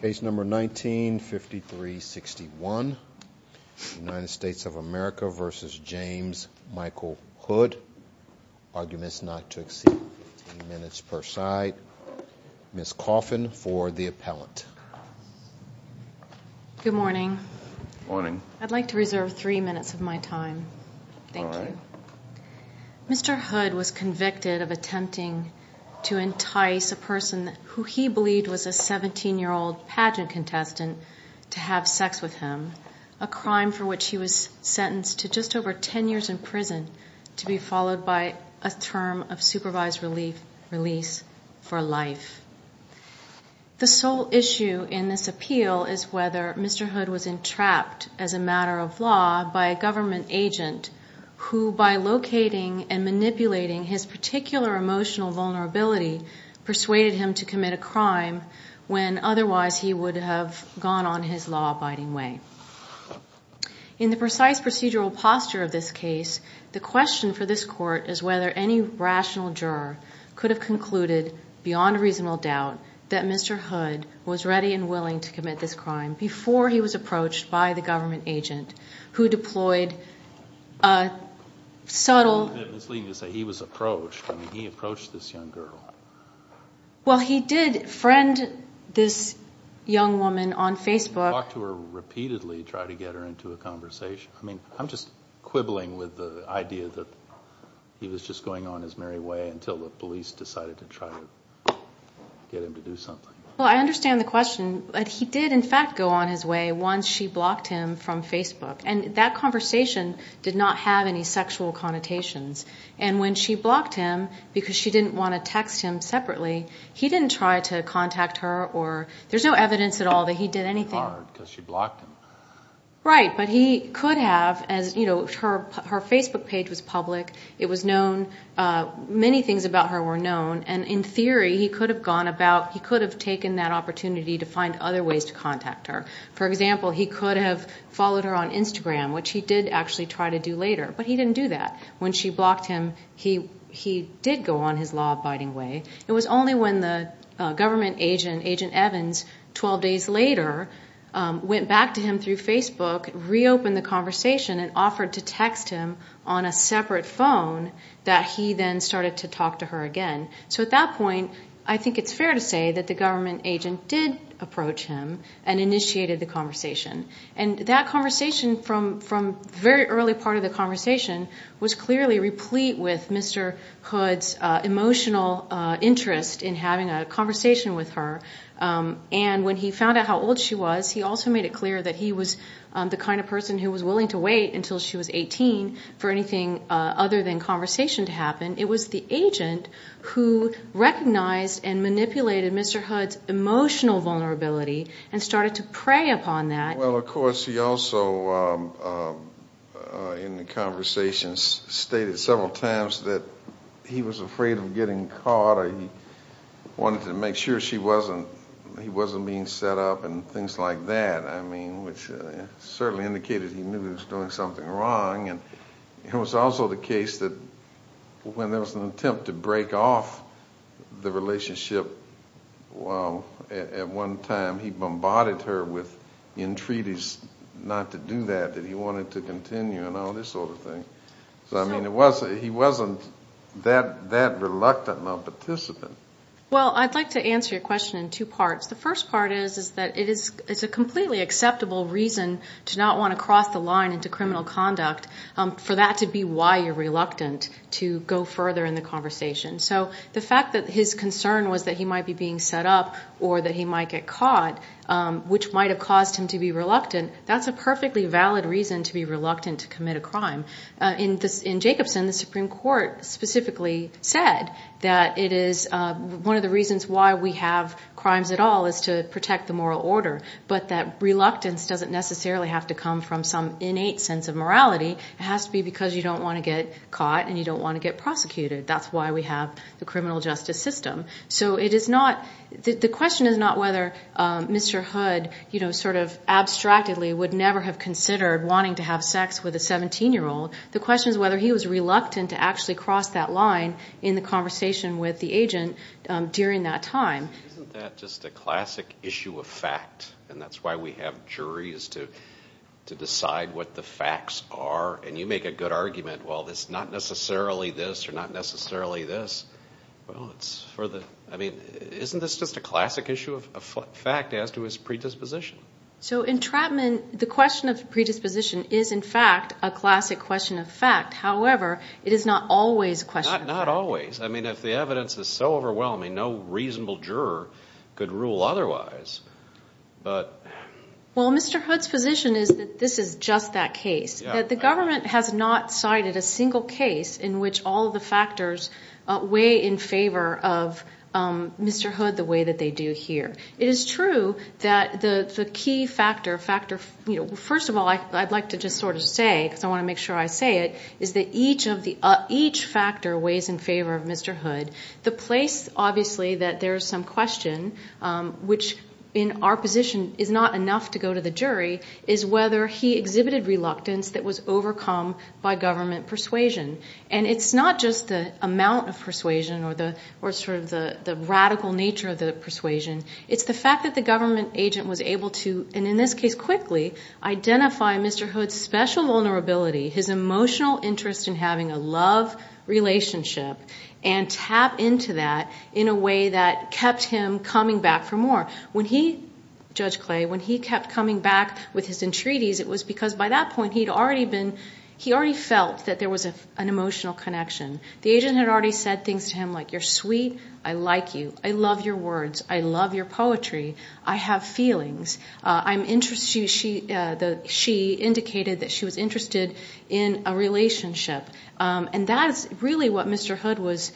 Good morning. I'd like to reserve three minutes of my time. Thank you. Mr. Hood was convicted of attempting to entice a person who he believed was a 17-year-old pageant contestant to have sex with him, a crime for which he was sentenced to just over 10 years in prison to be followed by a term of supervised release for life. The sole issue in this appeal is whether Mr. Hood was entrapped as a matter of law by a government agent who, by locating and manipulating his particular emotional vulnerability, persuaded him to commit a crime when otherwise he would have gone on his law-abiding way. In the precise procedural posture of this case, the question for this court is whether any rational juror could have concluded, beyond reasonable doubt, that Mr. Hood was ready and willing to commit this crime before he was approached by the government agent who deployed a subtle... It's misleading to say he was approached. I mean, he approached this young girl. Well, he did friend this young woman on Facebook. Did he talk to her repeatedly to try to get her into a conversation? I mean, I'm just quibbling with the idea that he was just going on his merry way until the police decided to try to get him to do something. Well, I understand the question. He did, in fact, go on his way once she blocked him from Facebook. And that conversation did not have any sexual connotations. And when she blocked him because she didn't want to text him separately, he didn't try to contact her, or there's no evidence at all that he did anything. Hard, because she blocked him. Right, but he could have. Her Facebook page was public. It was known. Many things about her were known. And in theory, he could have gone about, he could have taken that opportunity to find other ways to contact her. For example, he could have followed her on Instagram, which he did actually try to do later. But he didn't do that. When she blocked him, he did go on his law-abiding way. It was only when the government agent, Agent Evans, 12 days later, went back to him through Facebook, reopened the conversation, and offered to text him on a separate phone, that he then started to talk to her again. So at that point, I think it's fair to say that the government agent did approach him and initiated the conversation. And that conversation, from the very early part of the conversation, was clearly replete with Mr. Hood's emotional interest in having a conversation with her. And when he found out how old she was, he also made it clear that he was the kind of person who was willing to wait until she was 18 for anything other than conversation to happen. It was the agent who recognized and manipulated Mr. Hood's emotional vulnerability, and started to prey upon that. Well, of course, he also, in the conversations, stated several times that he was afraid of getting caught, or he wanted to make sure she wasn't, he wasn't being set up, and things like that. I mean, which certainly indicated he knew he was doing something wrong. And it was also the case that when there was an attempt to break off the relationship at one time, he bombarded her with entreaties not to do that, that he wanted to continue, and all this sort of thing. So, I mean, he wasn't that reluctant of a participant. Well, I'd like to answer your question in two parts. The first part is that it is a completely acceptable reason to not want to cross the line into criminal conduct, for that to be why you're reluctant to go further in the conversation. So the fact that his concern was that he might be being set up or that he might get caught, which might have caused him to be reluctant, that's a perfectly valid reason to be reluctant to commit a crime. In Jacobson, the Supreme Court specifically said that it is one of the reasons why we have crimes at all, is to protect the moral order, but that reluctance doesn't necessarily have to come from some innate sense of morality. It has to be because you don't want to get caught and you don't want to get prosecuted. That's why we have the criminal justice system. The question is not whether Mr. Hood sort of abstractedly would never have considered wanting to have sex with a 17-year-old. The question is whether he was reluctant to actually cross that line in the conversation with the agent during that time. Isn't that just a classic issue of fact, and that's why we have juries to decide what the facts are? And you make a good argument, well, it's not necessarily this or not necessarily this. I mean, isn't this just a classic issue of fact as to his predisposition? So entrapment, the question of predisposition, is in fact a classic question of fact. However, it is not always a question of fact. Not always. I mean, if the evidence is so overwhelming, no reasonable juror could rule otherwise. Well, Mr. Hood's position is that this is just that case. The government has not cited a single case in which all of the factors weigh in favor of Mr. Hood the way that they do here. It is true that the key factor, you know, first of all, I'd like to just sort of say, because I want to make sure I say it, is that each factor weighs in favor of Mr. Hood. The place, obviously, that there is some question, which in our position is not enough to go to the jury, is whether he exhibited reluctance that was overcome by government persuasion. And it's not just the amount of persuasion or sort of the radical nature of the persuasion. It's the fact that the government agent was able to, and in this case quickly, identify Mr. Hood's special vulnerability, his emotional interest in having a love relationship, and tap into that in a way that kept him coming back for more. When he, Judge Clay, when he kept coming back with his entreaties, it was because by that point he'd already been, he already felt that there was an emotional connection. The agent had already said things to him like, you're sweet, I like you, I love your words, I love your poetry, I have feelings. I'm interested, she indicated that she was interested in a relationship. And that is really what Mr. Hood was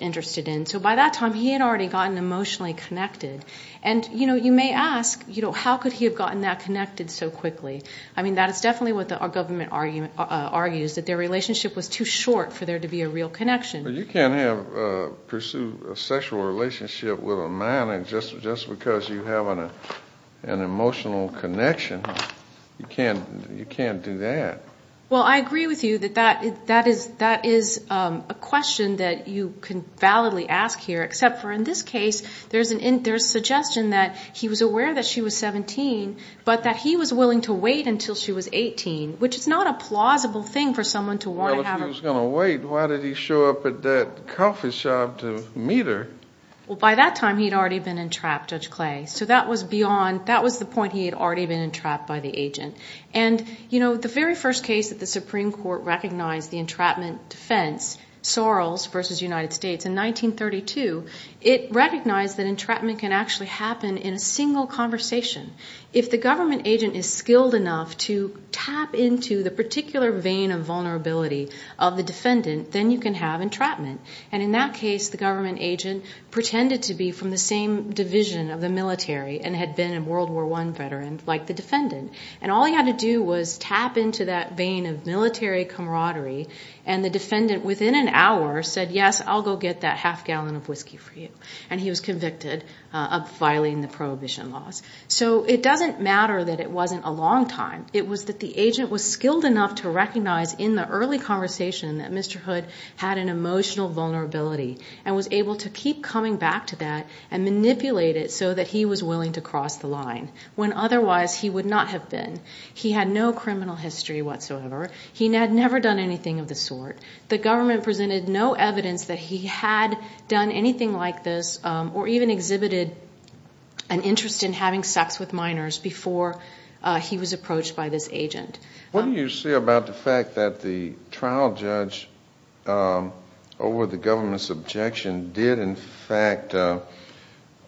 interested in. So by that time he had already gotten emotionally connected. And, you know, you may ask, you know, how could he have gotten that connected so quickly? I mean, that is definitely what the government argues, that their relationship was too short for there to be a real connection. You can't pursue a sexual relationship with a man just because you have an emotional connection. You can't do that. Well, I agree with you that that is a question that you can validly ask here, except for in this case there's suggestion that he was aware that she was 17, but that he was willing to wait until she was 18, which is not a plausible thing for someone to want to have a relationship. Well, if he was going to wait, why did he show up at that coffee shop to meet her? Well, by that time he'd already been entrapped, Judge Clay. So that was beyond, that was the point, he had already been entrapped by the agent. And, you know, the very first case that the Supreme Court recognized the entrapment defense, Sorrells v. United States in 1932, it recognized that entrapment can actually happen in a single conversation. If the government agent is skilled enough to tap into the particular vein of vulnerability of the defendant, then you can have entrapment. And in that case the government agent pretended to be from the same division of the military and had been a World War I veteran like the defendant. And all he had to do was tap into that vein of military camaraderie, and the defendant within an hour said, yes, I'll go get that half gallon of whiskey for you. And he was convicted of violating the prohibition laws. So it doesn't matter that it wasn't a long time. It was that the agent was skilled enough to recognize in the early conversation that Mr. Hood had an emotional vulnerability and was able to keep coming back to that and manipulate it so that he was willing to cross the line, when otherwise he would not have been. He had no criminal history whatsoever. He had never done anything of the sort. The government presented no evidence that he had done anything like this or even exhibited an interest in having sex with minors before he was approached by this agent. What do you say about the fact that the trial judge, over the government's objection, did in fact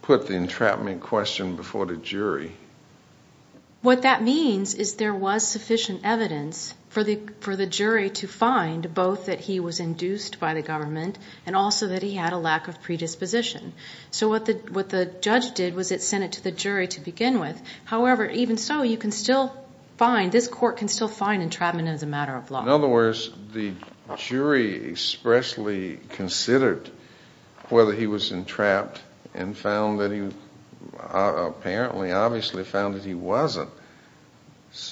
put the entrapment question before the jury? What that means is there was sufficient evidence for the jury to find, both that he was induced by the government and also that he had a lack of predisposition. So what the judge did was it sent it to the jury to begin with. However, even so, you can still find, this court can still find entrapment as a matter of law. In other words, the jury expressly considered whether he was entrapped and apparently obviously found that he wasn't.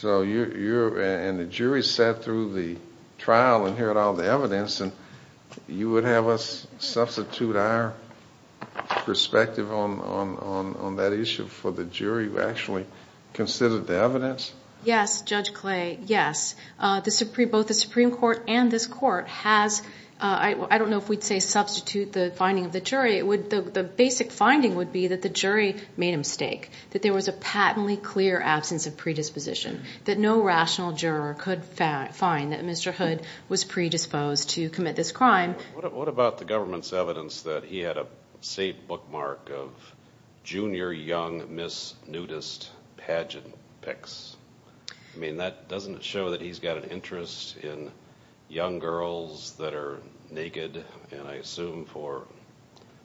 And the jury sat through the trial and heard all the evidence, and you would have us substitute our perspective on that issue for the jury who actually considered the evidence? Yes, Judge Clay, yes. Both the Supreme Court and this court has, I don't know if we'd say substitute the finding of the jury. The basic finding would be that the jury made a mistake, that there was a patently clear absence of predisposition, that no rational juror could find that Mr. Hood was predisposed to commit this crime. What about the government's evidence that he had a safe bookmark of junior young Miss Nudist pageant pics? I mean, that doesn't show that he's got an interest in young girls that are naked, and I assume for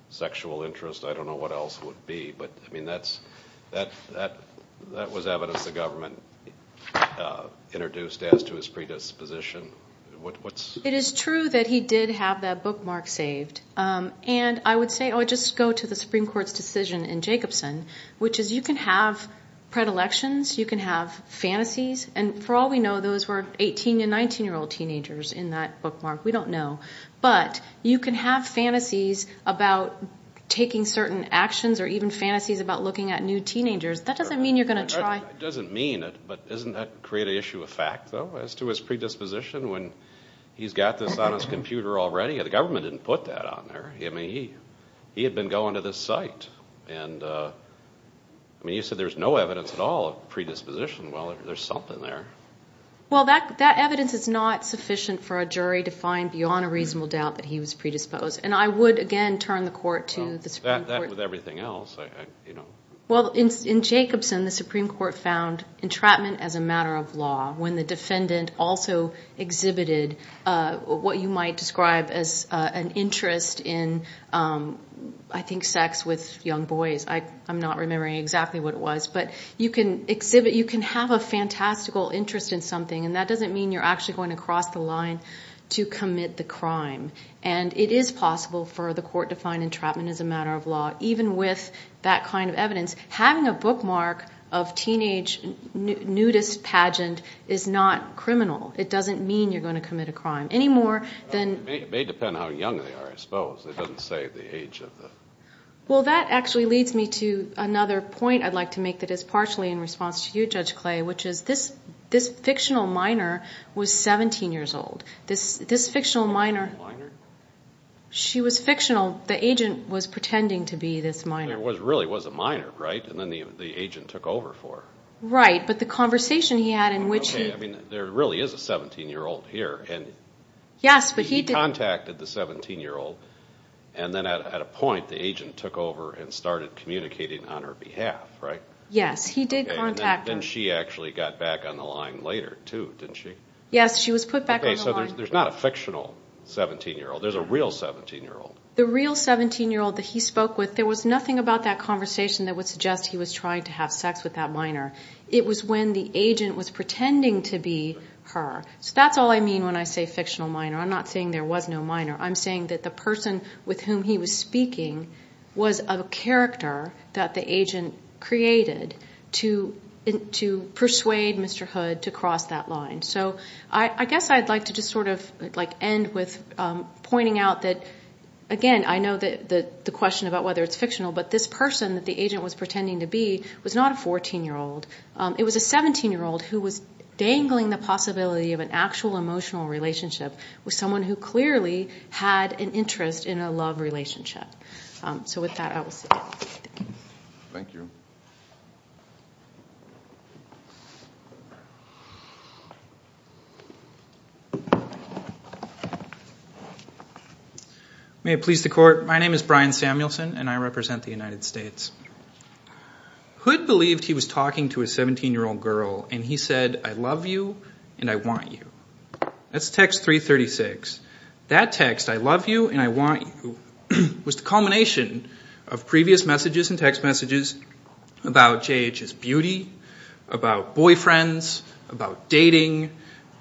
sexual interest, I don't know what else would be. But, I mean, that was evidence the government introduced as to his predisposition. It is true that he did have that bookmark saved, and I would say I would just go to the Supreme Court's decision in Jacobson, which is you can have predilections, you can have fantasies, and for all we know, those were 18- and 19-year-old teenagers in that bookmark. We don't know. But you can have fantasies about taking certain actions or even fantasies about looking at new teenagers. That doesn't mean you're going to try. It doesn't mean it, but doesn't that create an issue of fact, though, as to his predisposition when he's got this on his computer already? The government didn't put that on there. I mean, he had been going to this site, and, I mean, you said there was no evidence at all of predisposition. Well, there's something there. Well, that evidence is not sufficient for a jury to find beyond a reasonable doubt that he was predisposed, and I would, again, turn the court to the Supreme Court. That, with everything else. Well, in Jacobson, the Supreme Court found entrapment as a matter of law when the defendant also exhibited what you might describe as an interest in, I think, sex with young boys. I'm not remembering exactly what it was, but you can exhibit, you can have a fantastical interest in something, and that doesn't mean you're actually going to cross the line to commit the crime. And it is possible for the court to find entrapment as a matter of law, even with that kind of evidence. Having a bookmark of teenage nudist pageant is not criminal. It doesn't mean you're going to commit a crime, any more than... It may depend how young they are, I suppose. It doesn't say the age of the... Well, that actually leads me to another point I'd like to make that is partially in response to you, Judge Clay, which is this fictional minor was 17 years old. This fictional minor... She was fictional. The agent was pretending to be this minor. It really was a minor, right? And then the agent took over for her. Right, but the conversation he had in which he... Okay, I mean, there really is a 17-year-old here. Yes, but he... He contacted the 17-year-old, and then at a point the agent took over and started communicating on her behalf, right? Yes, he did contact her. And then she actually got back on the line later, too, didn't she? Yes, she was put back on the line. Okay, so there's not a fictional 17-year-old. There's a real 17-year-old. The real 17-year-old that he spoke with, there was nothing about that conversation that would suggest he was trying to have sex with that minor. It was when the agent was pretending to be her. So that's all I mean when I say fictional minor. I'm not saying there was no minor. I'm saying that the person with whom he was speaking was a character that the agent created to persuade Mr. Hood to cross that line. So I guess I'd like to just sort of end with pointing out that, again, I know the question about whether it's fictional, but this person that the agent was pretending to be was not a 14-year-old. It was a 17-year-old who was dangling the possibility of an actual emotional relationship with someone who clearly had an interest in a love relationship. So with that, I will stop. Thank you. May it please the Court, my name is Brian Samuelson and I represent the United States. Hood believed he was talking to a 17-year-old girl and he said, I love you and I want you. That's text 336. That text, I love you and I want you, was the culmination of previous messages and text messages about J.H.'s beauty, about boyfriends, about dating,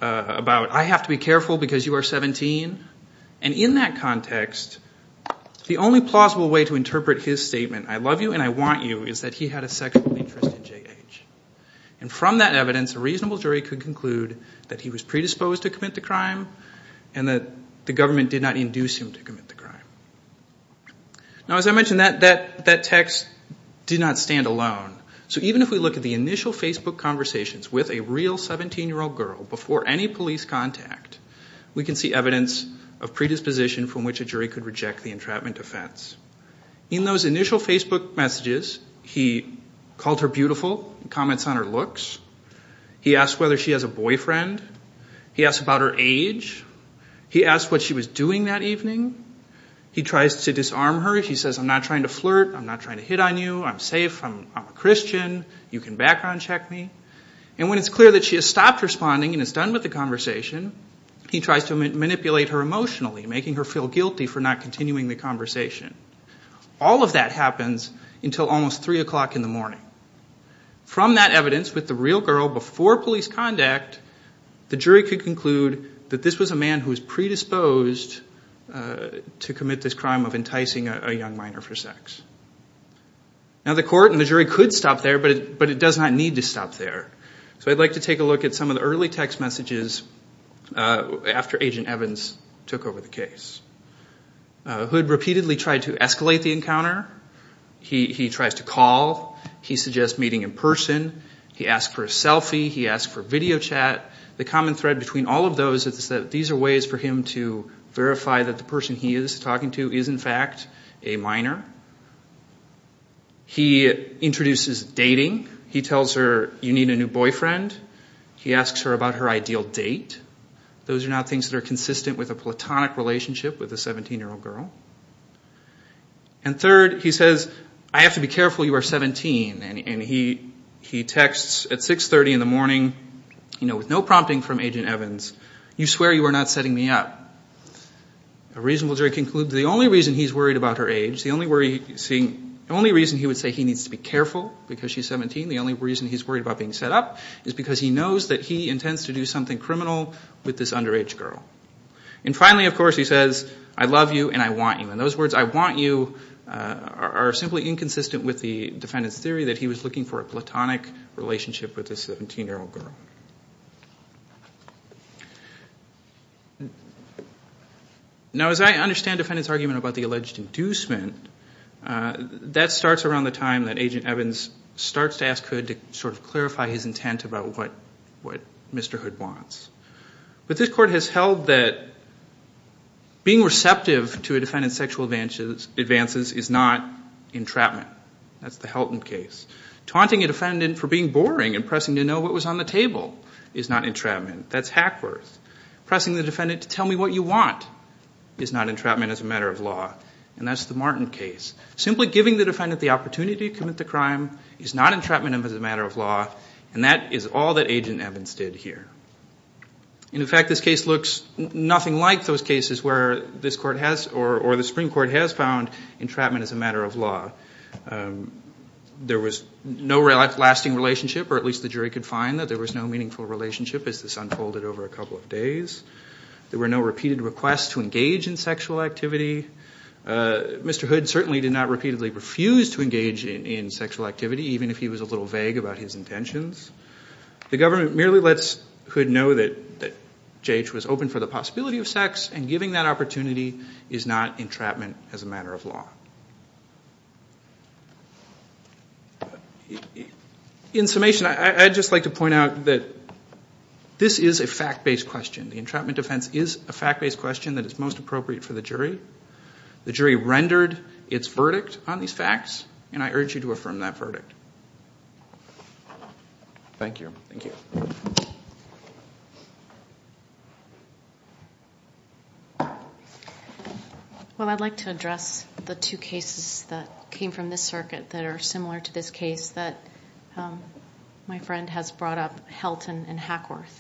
about I have to be careful because you are 17. And in that context, the only plausible way to interpret his statement, I love you and I want you, is that he had a sexual interest in J.H. And from that evidence, a reasonable jury could conclude that he was predisposed to commit the crime and that the government did not induce him to commit the crime. Now as I mentioned, that text did not stand alone. So even if we look at the initial Facebook conversations with a real 17-year-old girl before any police contact, we can see evidence of predisposition from which a jury could reject the entrapment offense. In those initial Facebook messages, he called her beautiful and comments on her looks. He asked whether she has a boyfriend. He asked about her age. He asked what she was doing that evening. He tries to disarm her. He says, I'm not trying to flirt. I'm not trying to hit on you. I'm safe. I'm a Christian. You can background check me. And when it's clear that she has stopped responding and is done with the conversation, he tries to manipulate her emotionally, making her feel guilty for not continuing the conversation. All of that happens until almost 3 o'clock in the morning. From that evidence with the real girl before police contact, the jury could conclude that this was a man who was predisposed to commit this crime of enticing a young minor for sex. Now, the court and the jury could stop there, but it does not need to stop there. So I'd like to take a look at some of the early text messages after Agent Evans took over the case. Hood repeatedly tried to escalate the encounter. He tries to call. He suggests meeting in person. He asked for a selfie. He asked for video chat. The common thread between all of those is that these are ways for him to verify that the person he is talking to is, in fact, a minor. He introduces dating. He tells her, you need a new boyfriend. He asks her about her ideal date. Those are now things that are consistent with a platonic relationship with a 17-year-old girl. And third, he says, I have to be careful. You are 17. And he texts at 6.30 in the morning with no prompting from Agent Evans. You swear you are not setting me up. A reasonable jury concludes the only reason he's worried about her age, the only reason he would say he needs to be careful because she's 17, the only reason he's worried about being set up is because he knows that he intends to do something criminal with this underage girl. And finally, of course, he says, I love you and I want you. And those words, I want you, are simply inconsistent with the defendant's theory that he was looking for a platonic relationship with this 17-year-old girl. Now, as I understand the defendant's argument about the alleged inducement, that starts around the time that Agent Evans starts to ask Hood to sort of clarify his intent about what Mr. Hood wants. But this court has held that being receptive to a defendant's sexual advances is not entrapment. That's the Helton case. Taunting a defendant for being boring and pressing to know what was on the table is not entrapment. That's Hackworth. Pressing the defendant to tell me what you want is not entrapment as a matter of law. And that's the Martin case. Simply giving the defendant the opportunity to commit the crime is not entrapment as a matter of law, and that is all that Agent Evans did here. In fact, this case looks nothing like those cases where this court has, or the Supreme Court has, found entrapment as a matter of law. There was no lasting relationship, or at least the jury could find that there was no meaningful relationship as this unfolded over a couple of days. There were no repeated requests to engage in sexual activity. Mr. Hood certainly did not repeatedly refuse to engage in sexual activity, even if he was a little vague about his intentions. The government merely lets Hood know that J.H. was open for the possibility of sex, and giving that opportunity is not entrapment as a matter of law. In summation, I'd just like to point out that this is a fact-based question. The entrapment defense is a fact-based question that is most appropriate for the jury. and I urge you to affirm that verdict. Thank you. Thank you. Well, I'd like to address the two cases that came from this circuit that are similar to this case that my friend has brought up, Helton and Hackworth.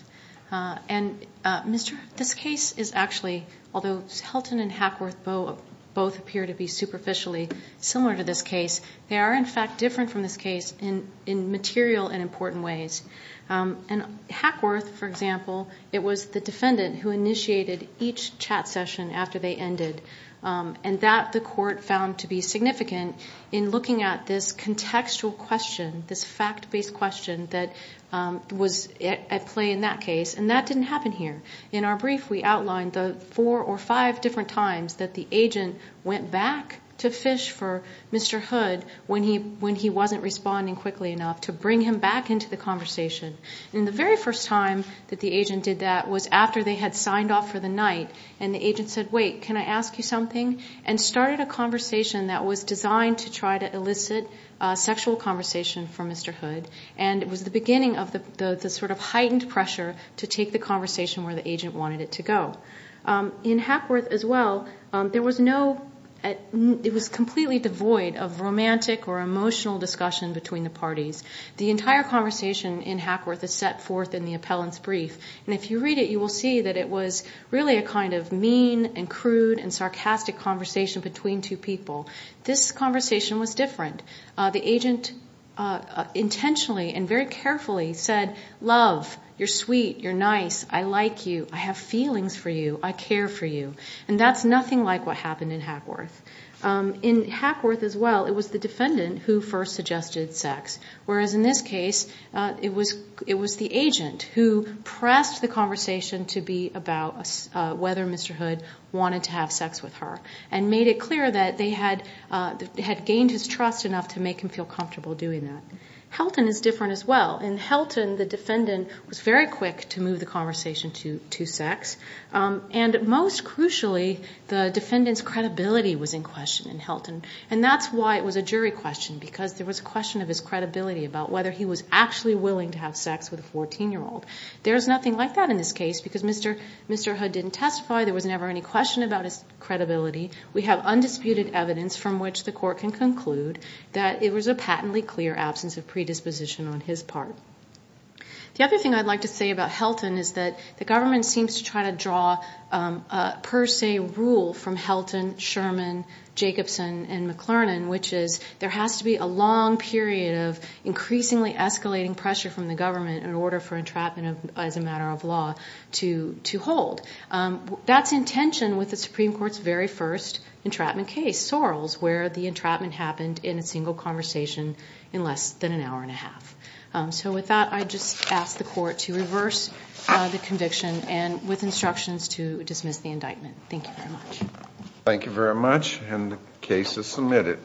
And, Mr., this case is actually, although Helton and Hackworth both appear to be superficially similar to this case, they are, in fact, different from this case in material and important ways. And Hackworth, for example, it was the defendant who initiated each chat session after they ended, and that the court found to be significant in looking at this contextual question, this fact-based question that was at play in that case, and that didn't happen here. In our brief, we outlined the four or five different times that the agent went back to fish for Mr. Hood when he wasn't responding quickly enough to bring him back into the conversation. And the very first time that the agent did that was after they had signed off for the night, and the agent said, wait, can I ask you something? And started a conversation that was designed to try to elicit a sexual conversation from Mr. Hood, and it was the beginning of the sort of heightened pressure to take the conversation where the agent wanted it to go. In Hackworth as well, there was no... frantic or emotional discussion between the parties. The entire conversation in Hackworth is set forth in the appellant's brief, and if you read it, you will see that it was really a kind of mean and crude and sarcastic conversation between two people. This conversation was different. The agent intentionally and very carefully said, love, you're sweet, you're nice, I like you, I have feelings for you, I care for you. And that's nothing like what happened in Hackworth. In Hackworth as well, it was the defendant who first suggested sex, whereas in this case, it was the agent who pressed the conversation to be about whether Mr. Hood wanted to have sex with her and made it clear that they had gained his trust enough to make him feel comfortable doing that. Helton is different as well. In Helton, the defendant was very quick to move the conversation to sex, and most crucially, the defendant's credibility was in question in Helton. And that's why it was a jury question, because there was a question of his credibility about whether he was actually willing to have sex with a 14-year-old. There's nothing like that in this case, because Mr. Hood didn't testify, there was never any question about his credibility. We have undisputed evidence from which the court can conclude that it was a patently clear absence of predisposition on his part. The other thing I'd like to say about Helton is that the government seems to try to draw a per se rule from Helton, Sherman, Jacobson, and McLernan, which is there has to be a long period of increasingly escalating pressure from the government in order for entrapment as a matter of law to hold. That's in tension with the Supreme Court's very first entrapment case, Sorrell's, where the entrapment happened in a single conversation in less than an hour and a half. So with that, I'd just ask the court to reverse the conviction and with instructions to dismiss the indictment. Thank you very much. Thank you very much, and the case is submitted.